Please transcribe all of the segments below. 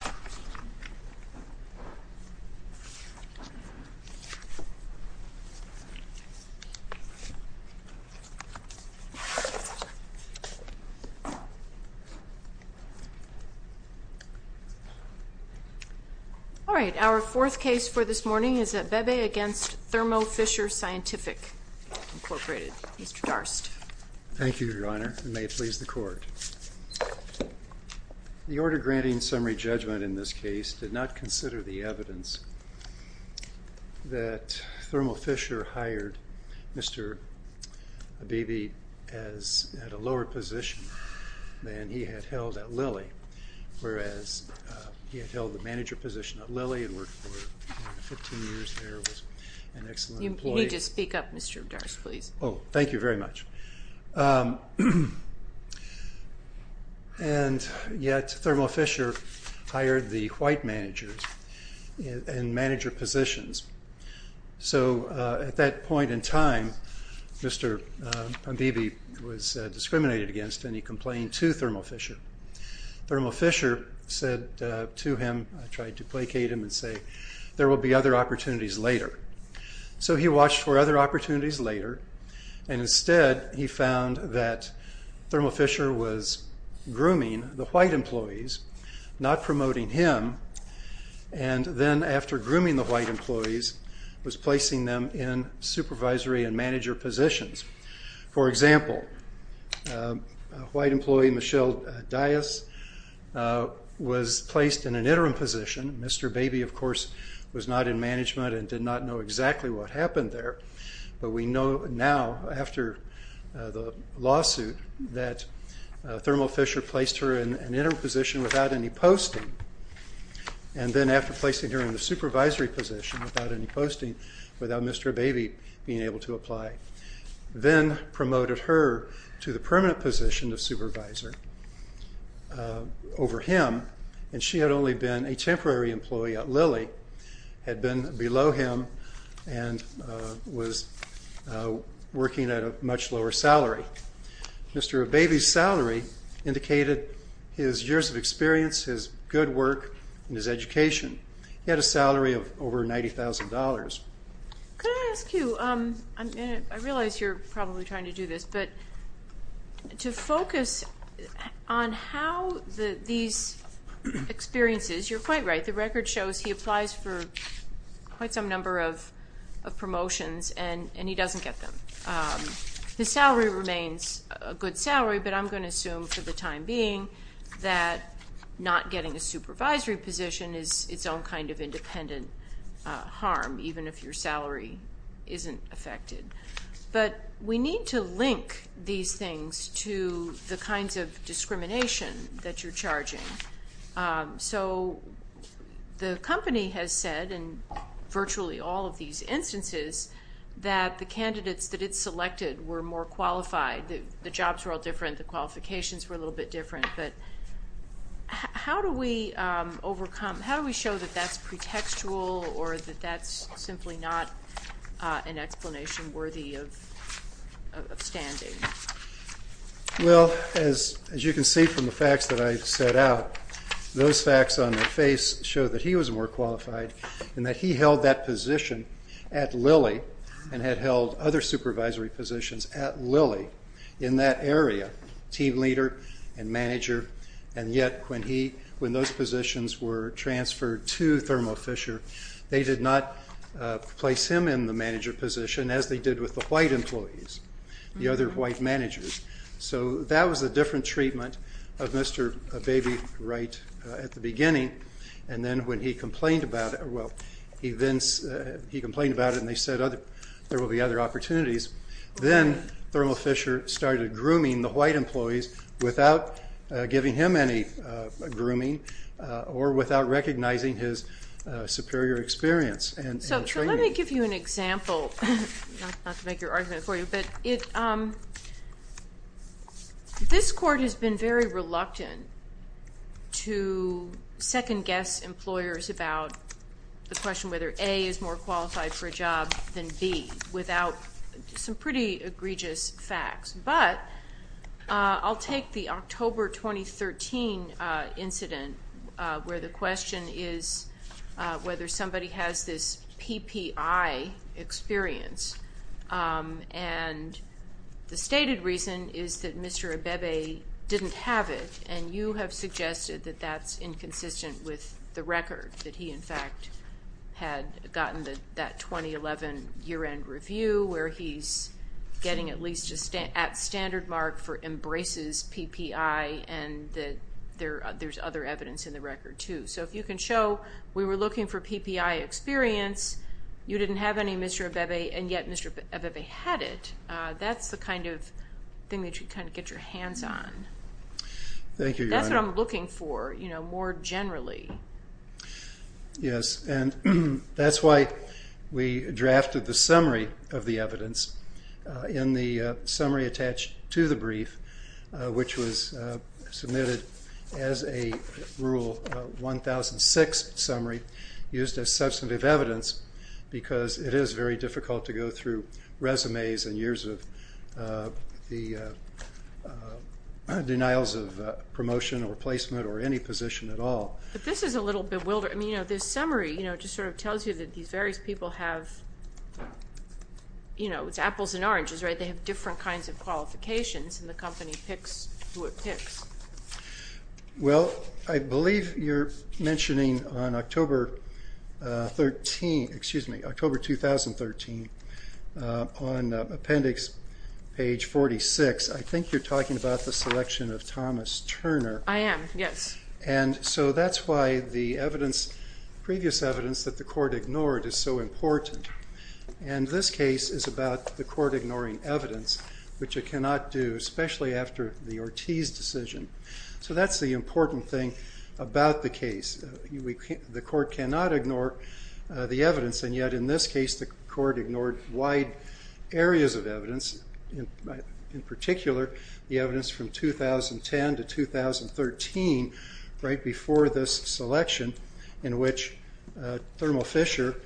Mr. Darst. Thank you, Your Honor, and may it please the Court. The order granting summary judgment in this case did not consider the evidence that Thermo Fisher hired Mr. Abebe at a lower position than he had held at Lilly, whereas he had held the manager position at Lilly and worked for 15 years there, was an excellent employee. You need to speak up, Mr. Darst, please. Oh, thank you very much. And yet Thermo Fisher hired the white managers and manager positions. So at that point in time, Mr. Abebe was discriminated against and he complained to Thermo Fisher. Thermo Fisher said to him, I tried to placate him and say, there will be other opportunities later. So he watched for other opportunities later and instead he found that Thermo Fisher was grooming the white employees, not promoting him, and then after grooming the white employees, was placing them in supervisory and manager positions. For example, white employee Michelle Dias was placed in an interim position. Mr. Abebe, of course, was not in management and did not know exactly what happened there, but we know now after the lawsuit that Thermo Fisher placed her in an interim position without any posting and then after placing her in the supervisory position without any posting, without Mr. Abebe being able to apply, then promoted her to the permanent position of supervisor over him and she been below him and was working at a much lower salary. Mr. Abebe's salary indicated his years of experience, his good work, and his education. He had a salary of over $90,000. Could I ask you, I realize you're probably trying to do this, but to focus on how these experiences, you're quite right, the quite some number of promotions and he doesn't get them. His salary remains a good salary, but I'm going to assume for the time being that not getting a supervisory position is its own kind of independent harm, even if your salary isn't affected. But we need to link these things to the kinds of discrimination that you're charging. So the company has said in virtually all of these instances that the candidates that it selected were more qualified. The jobs were all different, the qualifications were a little bit different, but how do we overcome, how do we show that that's pretextual or that that's simply not an The facts that I've set out, those facts on my face show that he was more qualified and that he held that position at Lilly and had held other supervisory positions at Lilly in that area, team leader and manager, and yet when he, when those positions were transferred to Thermo Fisher, they did not place him in the manager position as they did with the white employees, the other white treatment of Mr. Baby right at the beginning, and then when he complained about it, well, he then, he complained about it and they said other, there will be other opportunities. Then Thermo Fisher started grooming the white employees without giving him any grooming or without recognizing his superior experience. So let me give you an example, not to make your argument for you, but it, this court has been very reluctant to second-guess employers about the question whether A is more qualified for a job than B without some pretty egregious facts, but I'll take the October 2013 incident where the question is whether somebody has this PPI experience and the stated reason is that Mr. Abebe didn't have it and you have suggested that that's inconsistent with the record, that he in fact had gotten that 2011 year-end review where he's getting at least a standard mark for embraces PPI and that there's other evidence in the record too. So if you can show we were looking for PPI experience, you didn't have any Mr. Abebe, and yet Mr. Abebe had it, that's the kind of thing that you kind of get your hands on. Thank you. That's what I'm looking for, you know, more generally. Yes, and that's why we drafted the summary of the brief, which was submitted as a rule 1006 summary used as substantive evidence because it is very difficult to go through resumes and years of the denials of promotion or placement or any position at all. But this is a little bewildered, I mean, you know, this summary, you know, just sort of tells you that these various people have, you know, it's apples and oranges, right, they have different kinds of qualifications and the company picks who it picks. Well, I believe you're mentioning on October 13, excuse me, October 2013, on appendix page 46, I think you're talking about the selection of Thomas Turner. I am, yes. And so that's why the evidence, previous evidence, that the court ignored is so important. And this case is about the court ignoring evidence, which it cannot do, especially after the Ortiz decision. So that's the important thing about the case. The court cannot ignore the evidence, and yet in this case the court ignored wide areas of evidence, in particular the evidence from 2010 to 2013, right before this selection, in which Thermal Fisher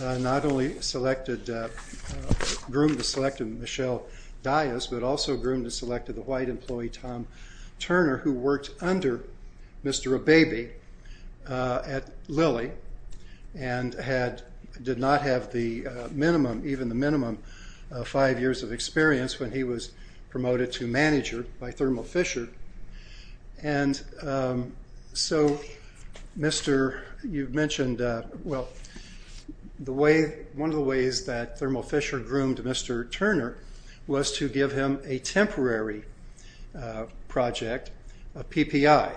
not only selected, groomed and selected Michelle Dias, but also groomed and selected the white employee Tom Turner, who worked under Mr. Abebe at Lilly and had, did not have the minimum, even the minimum, five years of experience when he was promoted to manager by Thermal Fisher. So, Mr., you've mentioned, well, the way, one of the ways that Thermal Fisher groomed Mr. Turner was to give him a temporary project, a PPI.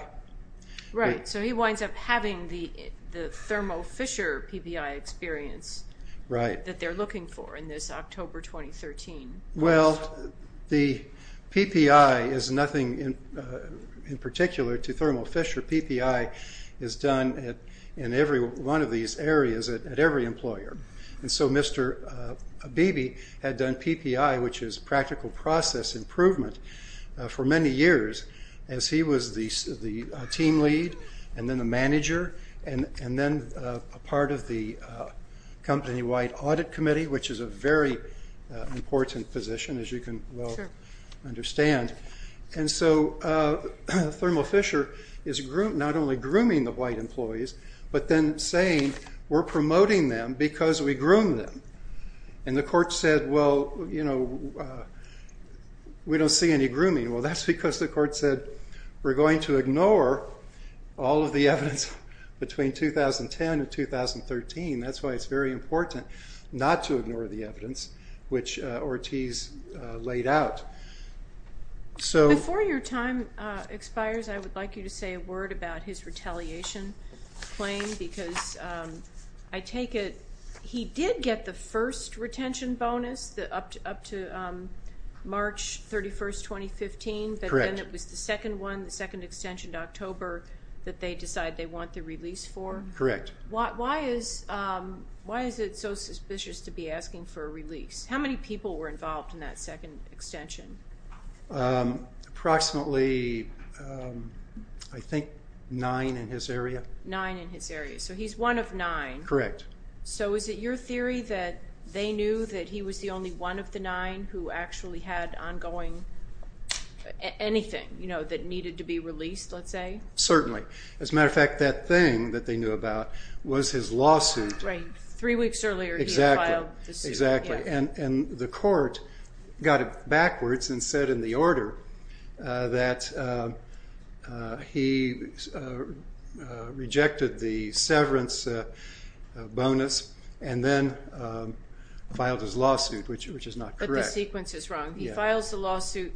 Right, so he winds up having the Thermal Fisher PPI experience, right, that they're looking for in this October 2013. Well, the PPI is nothing in particular to Thermal Fisher. PPI is done in every one of these areas at every employer. And so Mr. Abebe had done PPI, which is practical process improvement, for many years as he was the team lead, and then the manager, and then a part of the company-wide audit committee, which is a very important position, as you can understand. And so Thermal Fisher is not only grooming the white employees, but then saying, we're promoting them because we groom them. And the court said, well, you know, we don't see any grooming. Well, that's because the court said, we're going to ignore all of the evidence between 2010 and 2013. That's why it's very important not to ignore the evidence, which Ortiz laid out. So before your time expires, I would like you to say a word about his retaliation claim, because I take it he did get the first retention bonus up to March 31st, 2015, but then it was the second one, the second extension to October, that they decide they want the release for? Correct. Why is it so suspicious to be asking for a release? How many people were involved in that second extension? Approximately, I think, nine in his area. Nine in his area. So he's one of nine. Correct. So is it your theory that they knew that he was the only one of the nine who actually had ongoing anything, you know, that needed to be released, let's say? Certainly. As a matter of fact, that thing that they knew about was his lawsuit. Right, three weeks earlier he had filed the suit. Exactly, and the court got it backwards and said in the order that he rejected the severance bonus and then filed his lawsuit, which is not correct. But the sequence is wrong. He files the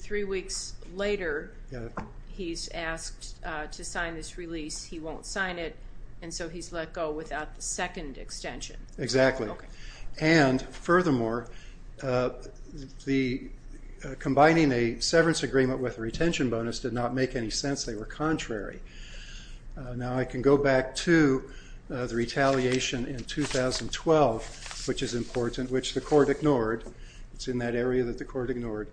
to sign this release, he won't sign it, and so he's let go without the second extension. Exactly, and furthermore, combining a severance agreement with a retention bonus did not make any sense. They were contrary. Now I can go back to the retaliation in 2012, which is important, which the court ignored. It's in that area that the court ignored.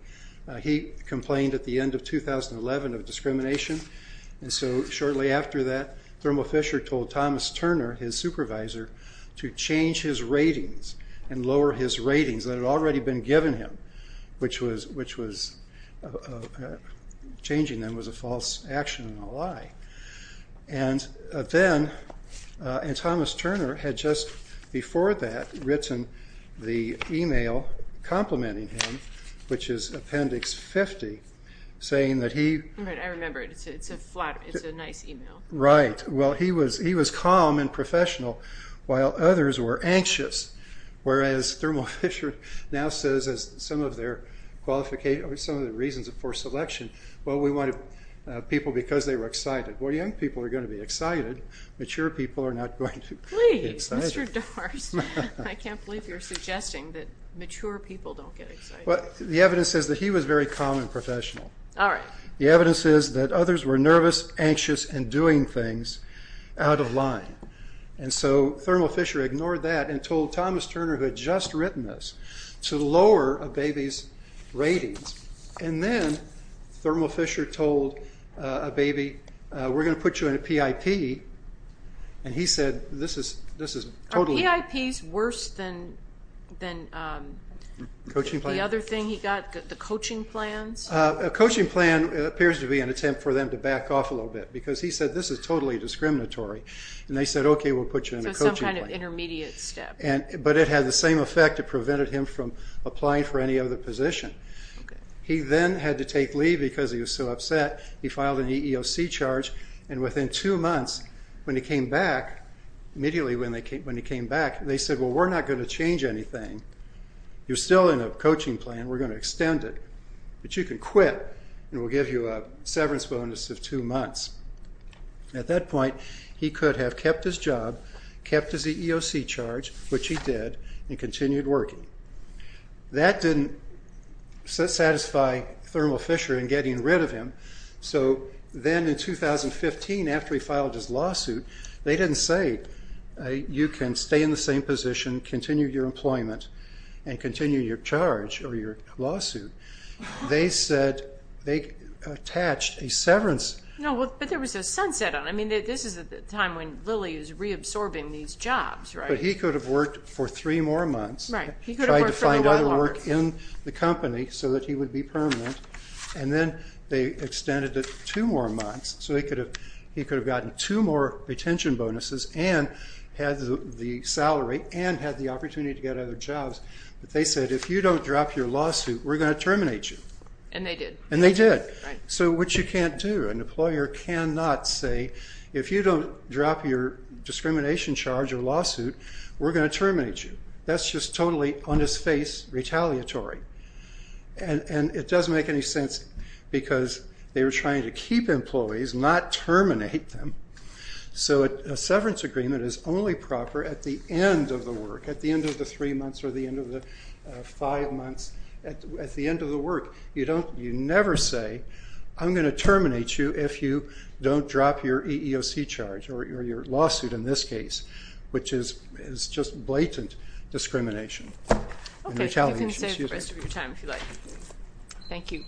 He complained at the end of 2011 of shortly after that, Thermo Fisher told Thomas Turner, his supervisor, to change his ratings and lower his ratings that had already been given him, which was changing them was a false action and a lie. And then Thomas Turner had just before that written the email complimenting him, which is Appendix 50, saying that he... Right, I remember it. It's a nice email. Right, well he was calm and professional while others were anxious, whereas Thermo Fisher now says as some of their qualifications, some of the reasons for selection, well we wanted people because they were excited. Well young people are going to be excited, mature people are not going to be excited. Please, Mr. Dorst, I can't believe you're suggesting that mature people don't get excited. Well the evidence says that he was very calm and professional. All right. The evidence is that others were nervous, anxious, and doing things out of line. And so Thermo Fisher ignored that and told Thomas Turner, who had just written this, to lower a baby's ratings. And then Thermo Fisher told a baby, we're going to put you in a PIP, and he said this is totally... Are PIPs worse than the other thing he got, the coaching plans? A coaching plan appears to be an attempt for them to back off a little bit, because he said this is totally discriminatory. And they said, okay, we'll put you in a coaching plan. So some kind of intermediate step. But it had the same effect. It prevented him from applying for any other position. He then had to take leave because he was so upset. He filed an EEOC charge, and within two months, when he came back, they said, well, we're not going to change anything. You're still in a coaching plan. We're going to extend it. But you can quit, and we'll give you a severance bonus of two months. At that point, he could have kept his job, kept his EEOC charge, which he did, and continued working. That didn't satisfy Thermo Fisher in getting rid of him. So then in 2015, after he filed his lawsuit, they didn't say, you can stay in the same position, continue your employment, and continue your charge or your lawsuit. They said they attached a severance. But there was a sunset on it. I mean, this is at the time when Lilly was reabsorbing these jobs, right? But he could have worked for three more months. Right. He could have worked for a while longer. He tried to find other work in the company so that he would be permanent. And then they extended it two more months. So he could have gotten two more retention bonuses, and had the salary, and had the opportunity to get other jobs. But they said, if you don't drop your lawsuit, we're going to terminate you. And they did. And they did. So, which you can't do. An employer cannot say, if you don't drop your discrimination charge or lawsuit, we're going to terminate you. That's just totally, on his face, retaliatory. And it doesn't make any sense, because they were trying to keep employees, not terminate them. So a severance agreement is only proper at the end of the work, at the end of the three months, or the end of the five months, at the end of the work. You don't, you never say, I'm going to terminate you if you don't drop your EEOC charge, or your lawsuit in this case, which is just blatant discrimination. Okay, you can save the rest of your time, if you like. Thank you.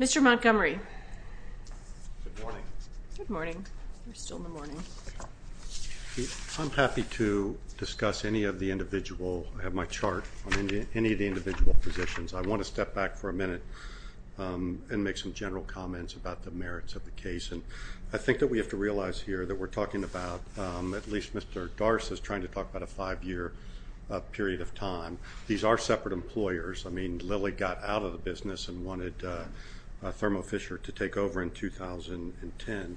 Mr. Montgomery. Good morning. Good morning. You're still in the morning. I'm happy to discuss any of the individual, I have my chart on any of the individual positions. I want to step back for a minute and make some general comments about the merits of the case. And I think that we have to realize here, that we're talking about, at least Mr. Darst is trying to talk about a five-year period of time. These are separate employers. I mean, Lilly got out of the business and wanted Thermo Fisher to take over in 2010.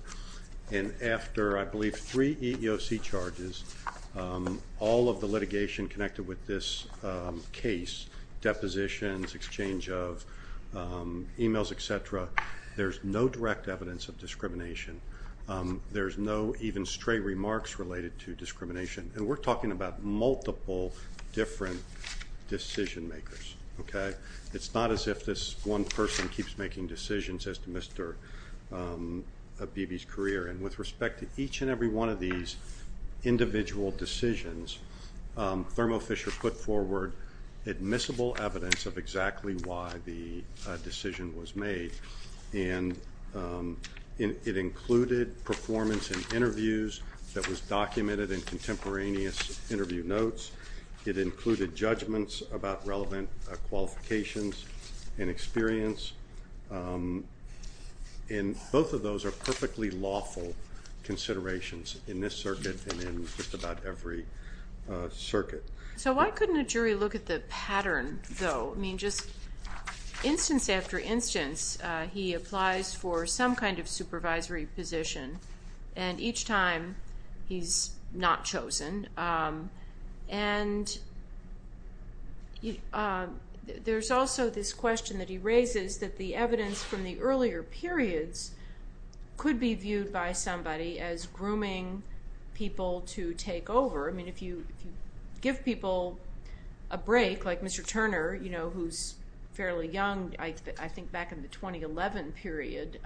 And after, I believe, three EEOC charges, all of the litigation connected with this case, depositions, exchange of emails, etc., there's no direct evidence of discrimination. There's no even stray remarks related to Okay, it's not as if this one person keeps making decisions as to Mr. Beebe's career. And with respect to each and every one of these individual decisions, Thermo Fisher put forward admissible evidence of exactly why the decision was made. And it included performance in interviews that was documented in qualifications and experience. And both of those are perfectly lawful considerations in this circuit and in just about every circuit. So why couldn't a jury look at the pattern, though? I mean, just instance after instance, he applies for some kind of supervisory position. And each time, he's not chosen. And there's also this question that he raises that the evidence from the earlier periods could be viewed by somebody as grooming people to take over. I mean, if you give people a break, like Mr. Turner, you know, who's fairly young, I think back in the 2011 period,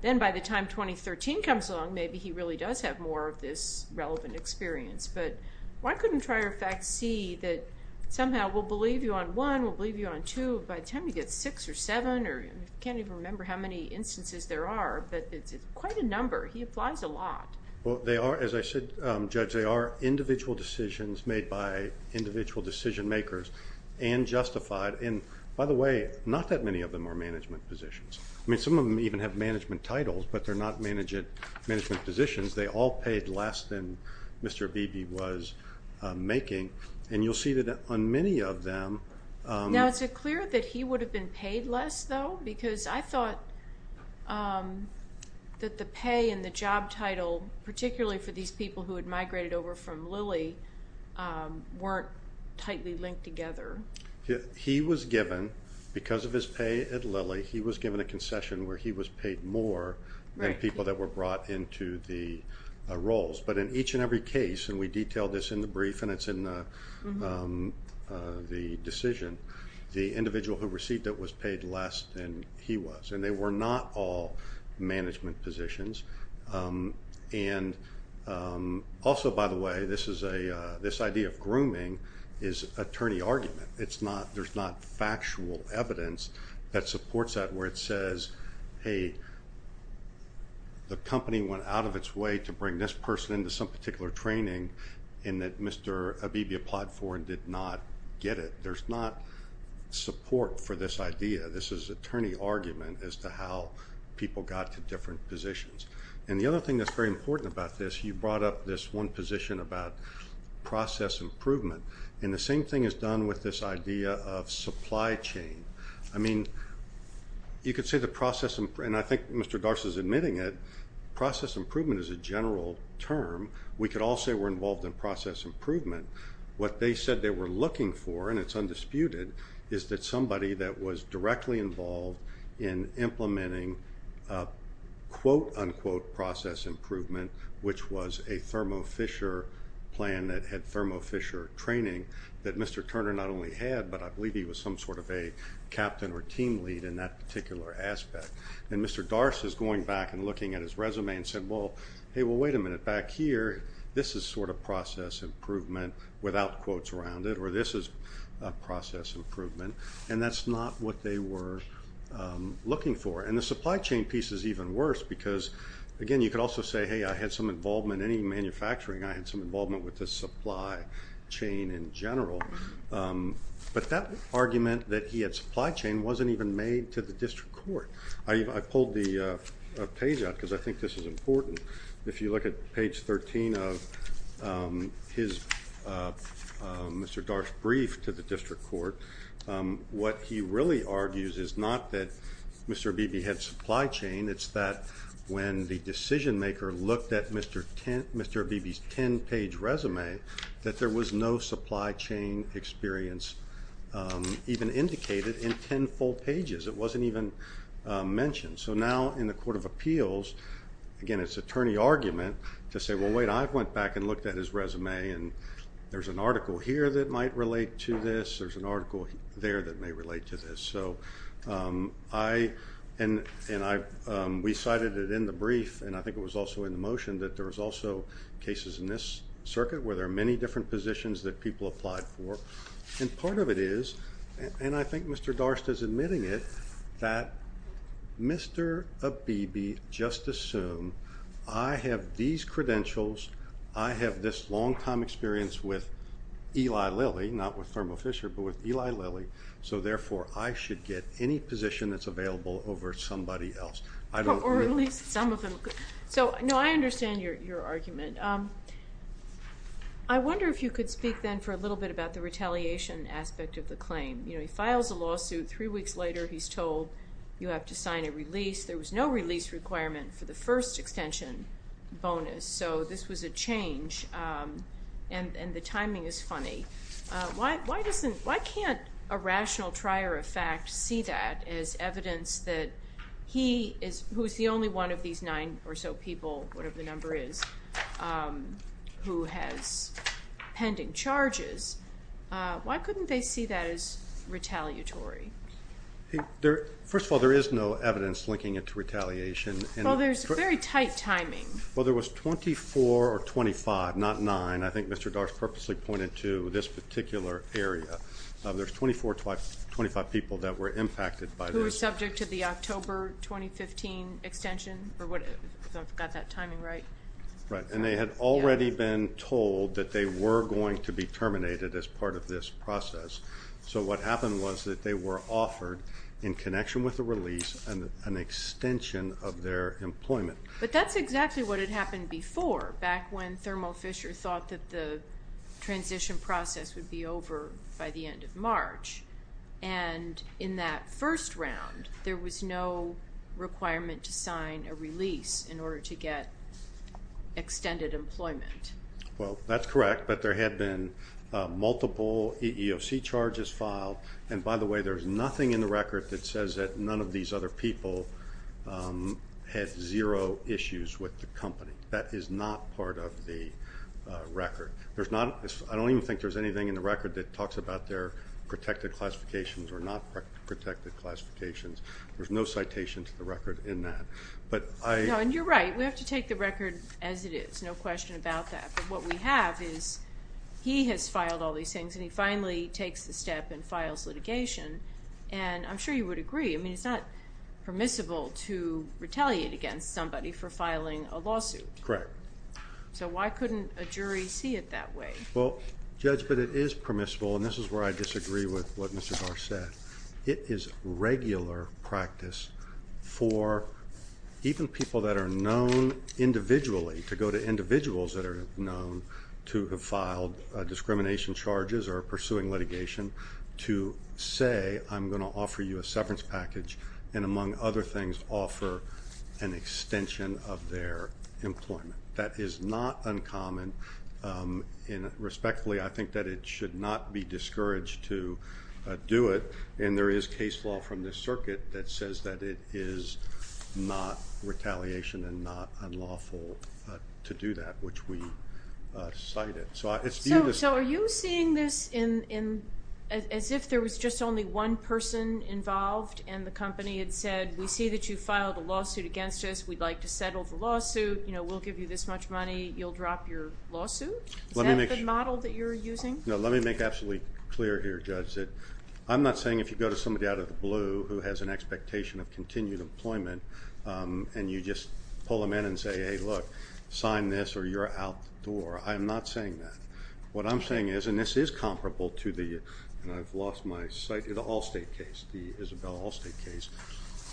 then by the time 2013 comes along, maybe he really does have more of this relevant experience. But why couldn't Trier effect see that somehow we'll believe you on one, we'll believe you on two, by the time you get six or seven, or you can't even remember how many instances there are, but it's quite a number. He applies a lot. Well, they are, as I said, Judge, they are individual decisions made by individual decision makers and justified. And by the way, not that many of them are management positions. I mean, some of them even have management titles, but they're not management positions. They all paid less than Mr. Beebe was making. And you'll see that on many of them... Now, is it clear that he would have been paid less, though? Because I thought that the pay and the job title, particularly for these people who had migrated over from Lilly, weren't tightly linked together. He was given, because of his pay at Lilly, he was given a concession where he was paid more than people that were brought into the roles. But in each and every case, and we detail this in the brief and it's in the decision, the individual who received it was paid less than he was. And they were not all management positions. And also, by the way, this is a... This idea of grooming is attorney argument. It's not... There's not factual evidence that supports that where it says, hey, the company went out of its way to bring this person into some particular training and that Mr. Beebe applied for and did not get it. There's not support for this idea. This is attorney argument as to how people got to different positions. And the other thing that's very important about this, you brought up this one position about process improvement. And the same thing is done with this idea of supply chain. I mean, you could say the process... And I think Mr. Garst is admitting it. Process improvement is a general term. We could all say we're involved in process improvement. What they said they were looking for, and it's undisputed, is that somebody that was directly involved in quote-unquote process improvement, which was a Thermo Fisher plan that had Thermo Fisher training that Mr. Turner not only had, but I believe he was some sort of a captain or team lead in that particular aspect. And Mr. Garst is going back and looking at his resume and said, well, hey, well, wait a minute. Back here, this is sort of process improvement without quotes around it, or this is a process improvement. And that's not what they were looking for. And the supply chain piece is even worse because, again, you could also say, hey, I had some involvement in any manufacturing. I had some involvement with the supply chain in general. But that argument that he had supply chain wasn't even made to the district court. I pulled the page out because I think this is important. If you look at page 13 of his, Mr. Garst's brief to the district court, what he really argues is not that Mr. Abebe had supply chain, it's that when the decision-maker looked at Mr. Abebe's 10-page resume, that there was no supply chain experience even indicated in 10 full pages. It wasn't even mentioned. So now in the Court of Appeals, again, it's attorney argument to say, well, wait, I went back and looked at his resume and there's an article here that might relate to this, there's an article there that may relate to this. So I, and we cited it in the brief, and I think it was also in the motion, that there was also cases in this circuit where there are many different positions that people applied for. And part of it is, and I think Mr. Garst is admitting it, that Mr. Abebe just assumed, I have these credentials, I have this longtime experience with Eli Fisher, but with Eli Lilly, so therefore I should get any position that's available over somebody else. I don't... So, no, I understand your argument. I wonder if you could speak then for a little bit about the retaliation aspect of the claim. You know, he files a lawsuit, three weeks later he's told you have to sign a release, there was no release requirement for the first extension bonus, so this was a change, and the timing is funny. Why doesn't, why can't a rational trier of fact see that as evidence that he is, who's the only one of these nine or so people, whatever the number is, who has pending charges, why couldn't they see that as retaliatory? First of all, there is no timing. Well, there was 24 or 25, not nine, I think Mr. Garst purposely pointed to this particular area. There's 24 or 25 people that were impacted by this. Who were subject to the October 2015 extension, or what, if I've got that timing right. Right, and they had already been told that they were going to be terminated as part of this process. So what happened was that they were offered, in connection with the release, an extension of their employment. But that's exactly what had happened before, back when Thermo Fisher thought that the transition process would be over by the end of March, and in that first round there was no requirement to sign a release in order to get extended employment. Well, that's correct, but there had been multiple EEOC charges filed, and by the way, there's nothing in the record that says that none of these other people had zero issues with the company. That is not part of the record. There's not, I don't even think there's anything in the record that talks about their protected classifications or not protected classifications. There's no citation to the record in that, but I... No, and you're right, we have to take the record as it is, no question about that, but what we have is, he has filed all these things and he finally takes the agree. I mean, it's not permissible to retaliate against somebody for filing a lawsuit. Correct. So why couldn't a jury see it that way? Well, Judge, but it is permissible, and this is where I disagree with what Mr. Garcett. It is regular practice for even people that are known individually, to go to individuals that are known to have filed discrimination charges or pursuing litigation, to say I'm going to offer you a severance package, and among other things, offer an extension of their employment. That is not uncommon, and respectfully, I think that it should not be discouraged to do it, and there is case law from this circuit that says that it is not retaliation and not unlawful to do that, which we cited. So it's... So are you seeing this as if there was just only one person involved and the company had said, we see that you filed a lawsuit against us, we'd like to settle the lawsuit, you know, we'll give you this much money, you'll drop your lawsuit? Is that the model that you're using? No, let me make absolutely clear here, Judge, that I'm not saying if you go to somebody out of the blue who has an expectation of continued employment and you just pull them in and say, hey look, sign this or you're out the door. I'm not saying that. What I'm saying is, and this is comparable to the, and I've lost my sight, the Allstate case, the Isabel Allstate case,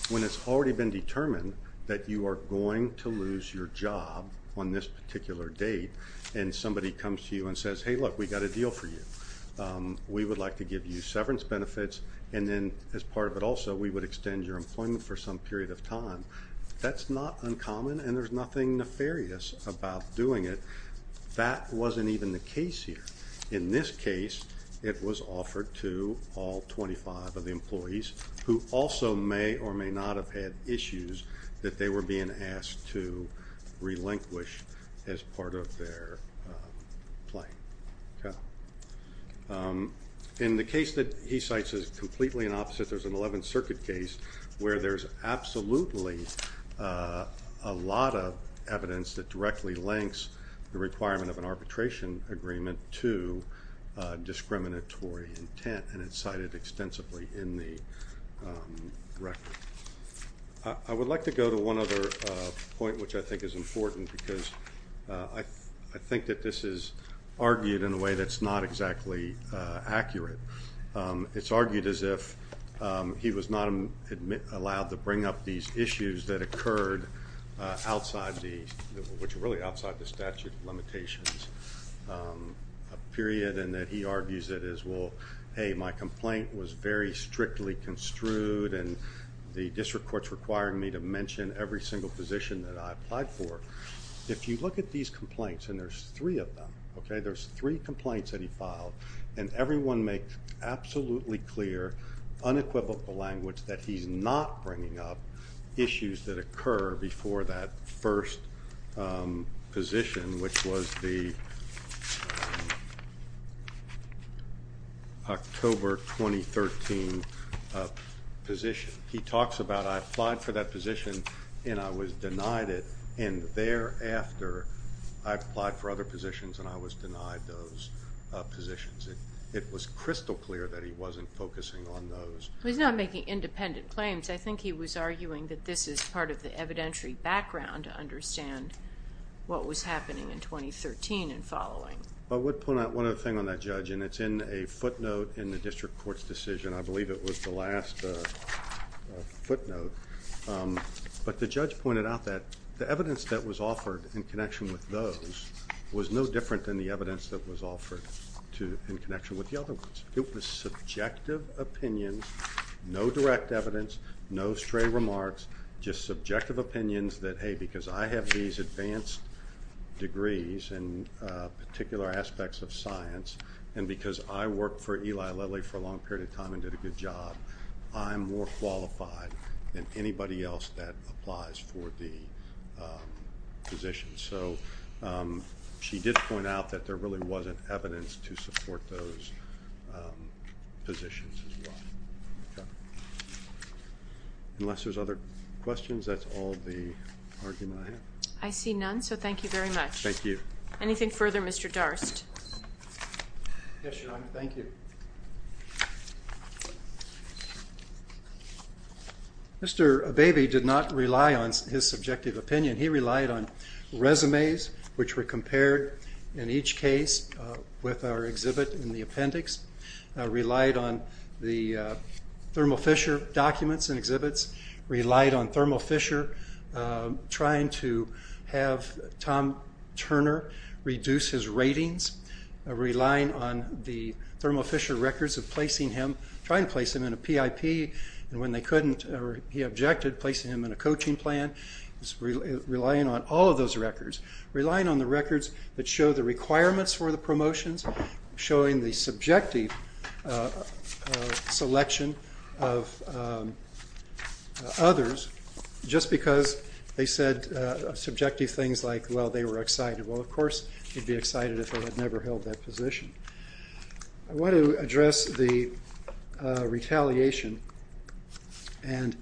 when it's already been determined that you are going to lose your job on this particular date and somebody comes to you and says, hey look, we got a deal for you. We would like to give you severance benefits and then as part of it also, we would extend your employment for some period of time. That's not uncommon and there's nothing nefarious about doing it. That wasn't even the case here. In this case, it was offered to all 25 of the employees who also may or may not have had issues that they were being asked to relinquish as part of their claim. In the case that he cites is completely an opposite. There's an 11th Circuit case where there's absolutely a directly links the requirement of an arbitration agreement to discriminatory intent and it's cited extensively in the record. I would like to go to one other point which I think is important because I think that this is argued in a way that's not exactly accurate. It's argued as if he was not allowed to bring up these issues that occurred outside the, which are really outside the statute limitations, a period and that he argues it as well, hey my complaint was very strictly construed and the district courts requiring me to mention every single position that I applied for. If you look at these complaints and there's three of them, okay, there's three complaints that he filed and everyone absolutely clear unequivocal language that he's not bringing up issues that occur before that first position which was the October 2013 position. He talks about I applied for that position and I was denied it and thereafter I applied for other positions and I was denied those positions. It was crystal clear that he wasn't focusing on those. He's not making independent claims. I think he was arguing that this is part of the evidentiary background to understand what was happening in 2013 and following. I would point out one other thing on that judge and it's in a footnote in the district courts decision. I believe it was the last footnote but the judge pointed out that the evidence that was no different than the evidence that was offered to in connection with the other ones. It was subjective opinions, no direct evidence, no stray remarks, just subjective opinions that hey because I have these advanced degrees and particular aspects of science and because I worked for Eli Lilly for a long period of time and did a good job, I'm more qualified than anybody else that applies for the position. So she did point out that there really wasn't evidence to support those positions as well. Unless there's other questions, that's all the argument I have. I see none so thank you very much. Thank you. Anything further Mr. Darst? Yes, Your Honor. Thank you. Mr. Abebe did not rely on his subjective opinion. He relied on resumes which were compared in each case with our exhibit in the appendix, relied on the Thermo Fisher documents and exhibits, relied on Thermo Fisher trying to have Tom Turner reduce his ratings, relying on the Thermo Fisher records of placing him, trying to place him in a PIP and when they couldn't or he objected, placing him in a coaching plan, relying on all of those records, relying on the records that show the requirements for the promotions, showing the subjective selection of others just because they said subjective things like, well they were excited. Well of course he'd be excited if they had never held that position. I want to address the retaliation and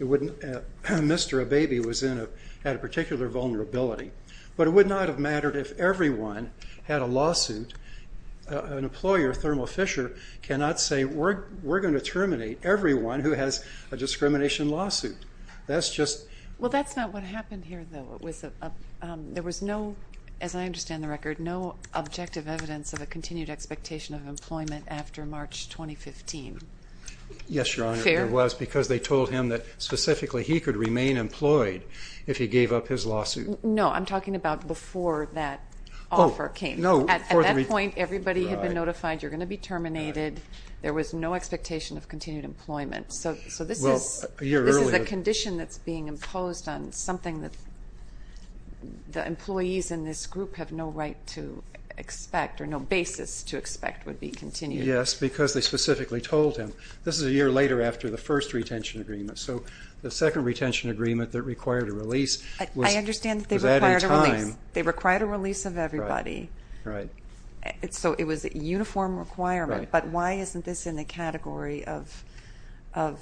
Mr. Abebe had a particular vulnerability, but it would not have mattered if everyone had a lawsuit. An employer, Thermo Fisher, cannot say we're going to terminate everyone who has a discrimination lawsuit. That's just... Well that's not what happened here though. There was no, as I understand the record, no objective evidence of a continued expectation of employment after March 2015. Yes, Your Honor, there was because they told him that specifically he could remain employed if he gave up his lawsuit. No, I'm talking about before that offer came. At that point, everybody had been notified you're going to be terminated. There was no expectation of continued employment. So this is a condition that's being imposed on something that the employees in this group have no right to expect or no basis to expect would be continued. Yes, because they specifically told him. This is a year later after the first retention agreement, so the second retention agreement that required a They required a release of everybody, so it was a uniform requirement, but why isn't this in the category of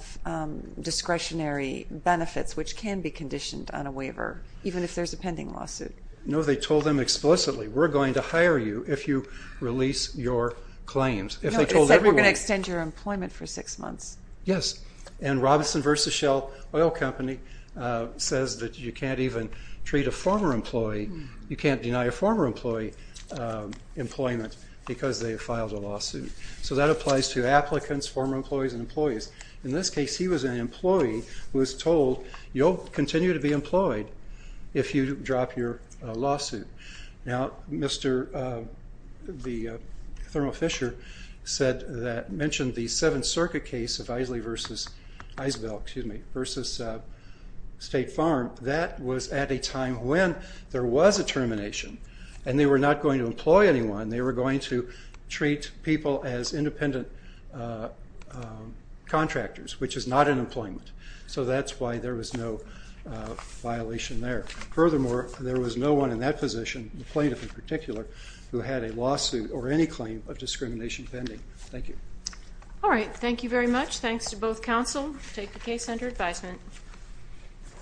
discretionary benefits which can be conditioned on a waiver even if there's a pending lawsuit? No, they told them explicitly we're going to hire you if you release your claims. They said we're going to extend your employment for six months. Yes, and a former employee, you can't deny a former employee employment because they filed a lawsuit. So that applies to applicants, former employees, and employees. In this case, he was an employee who was told you'll continue to be employed if you drop your lawsuit. Now, Mr. Thurman Fisher said that, mentioned the Seventh Circuit case of Isley versus Isbell, excuse me, versus State Farm. That was at a time when there was a termination, and they were not going to employ anyone. They were going to treat people as independent contractors, which is not an employment. So that's why there was no violation there. Furthermore, there was no one in that position, the plaintiff in particular, who had a lawsuit or any claim of discrimination pending. Thank you. All right, thank you very much. Thanks to both counsel. Take the case under advisement.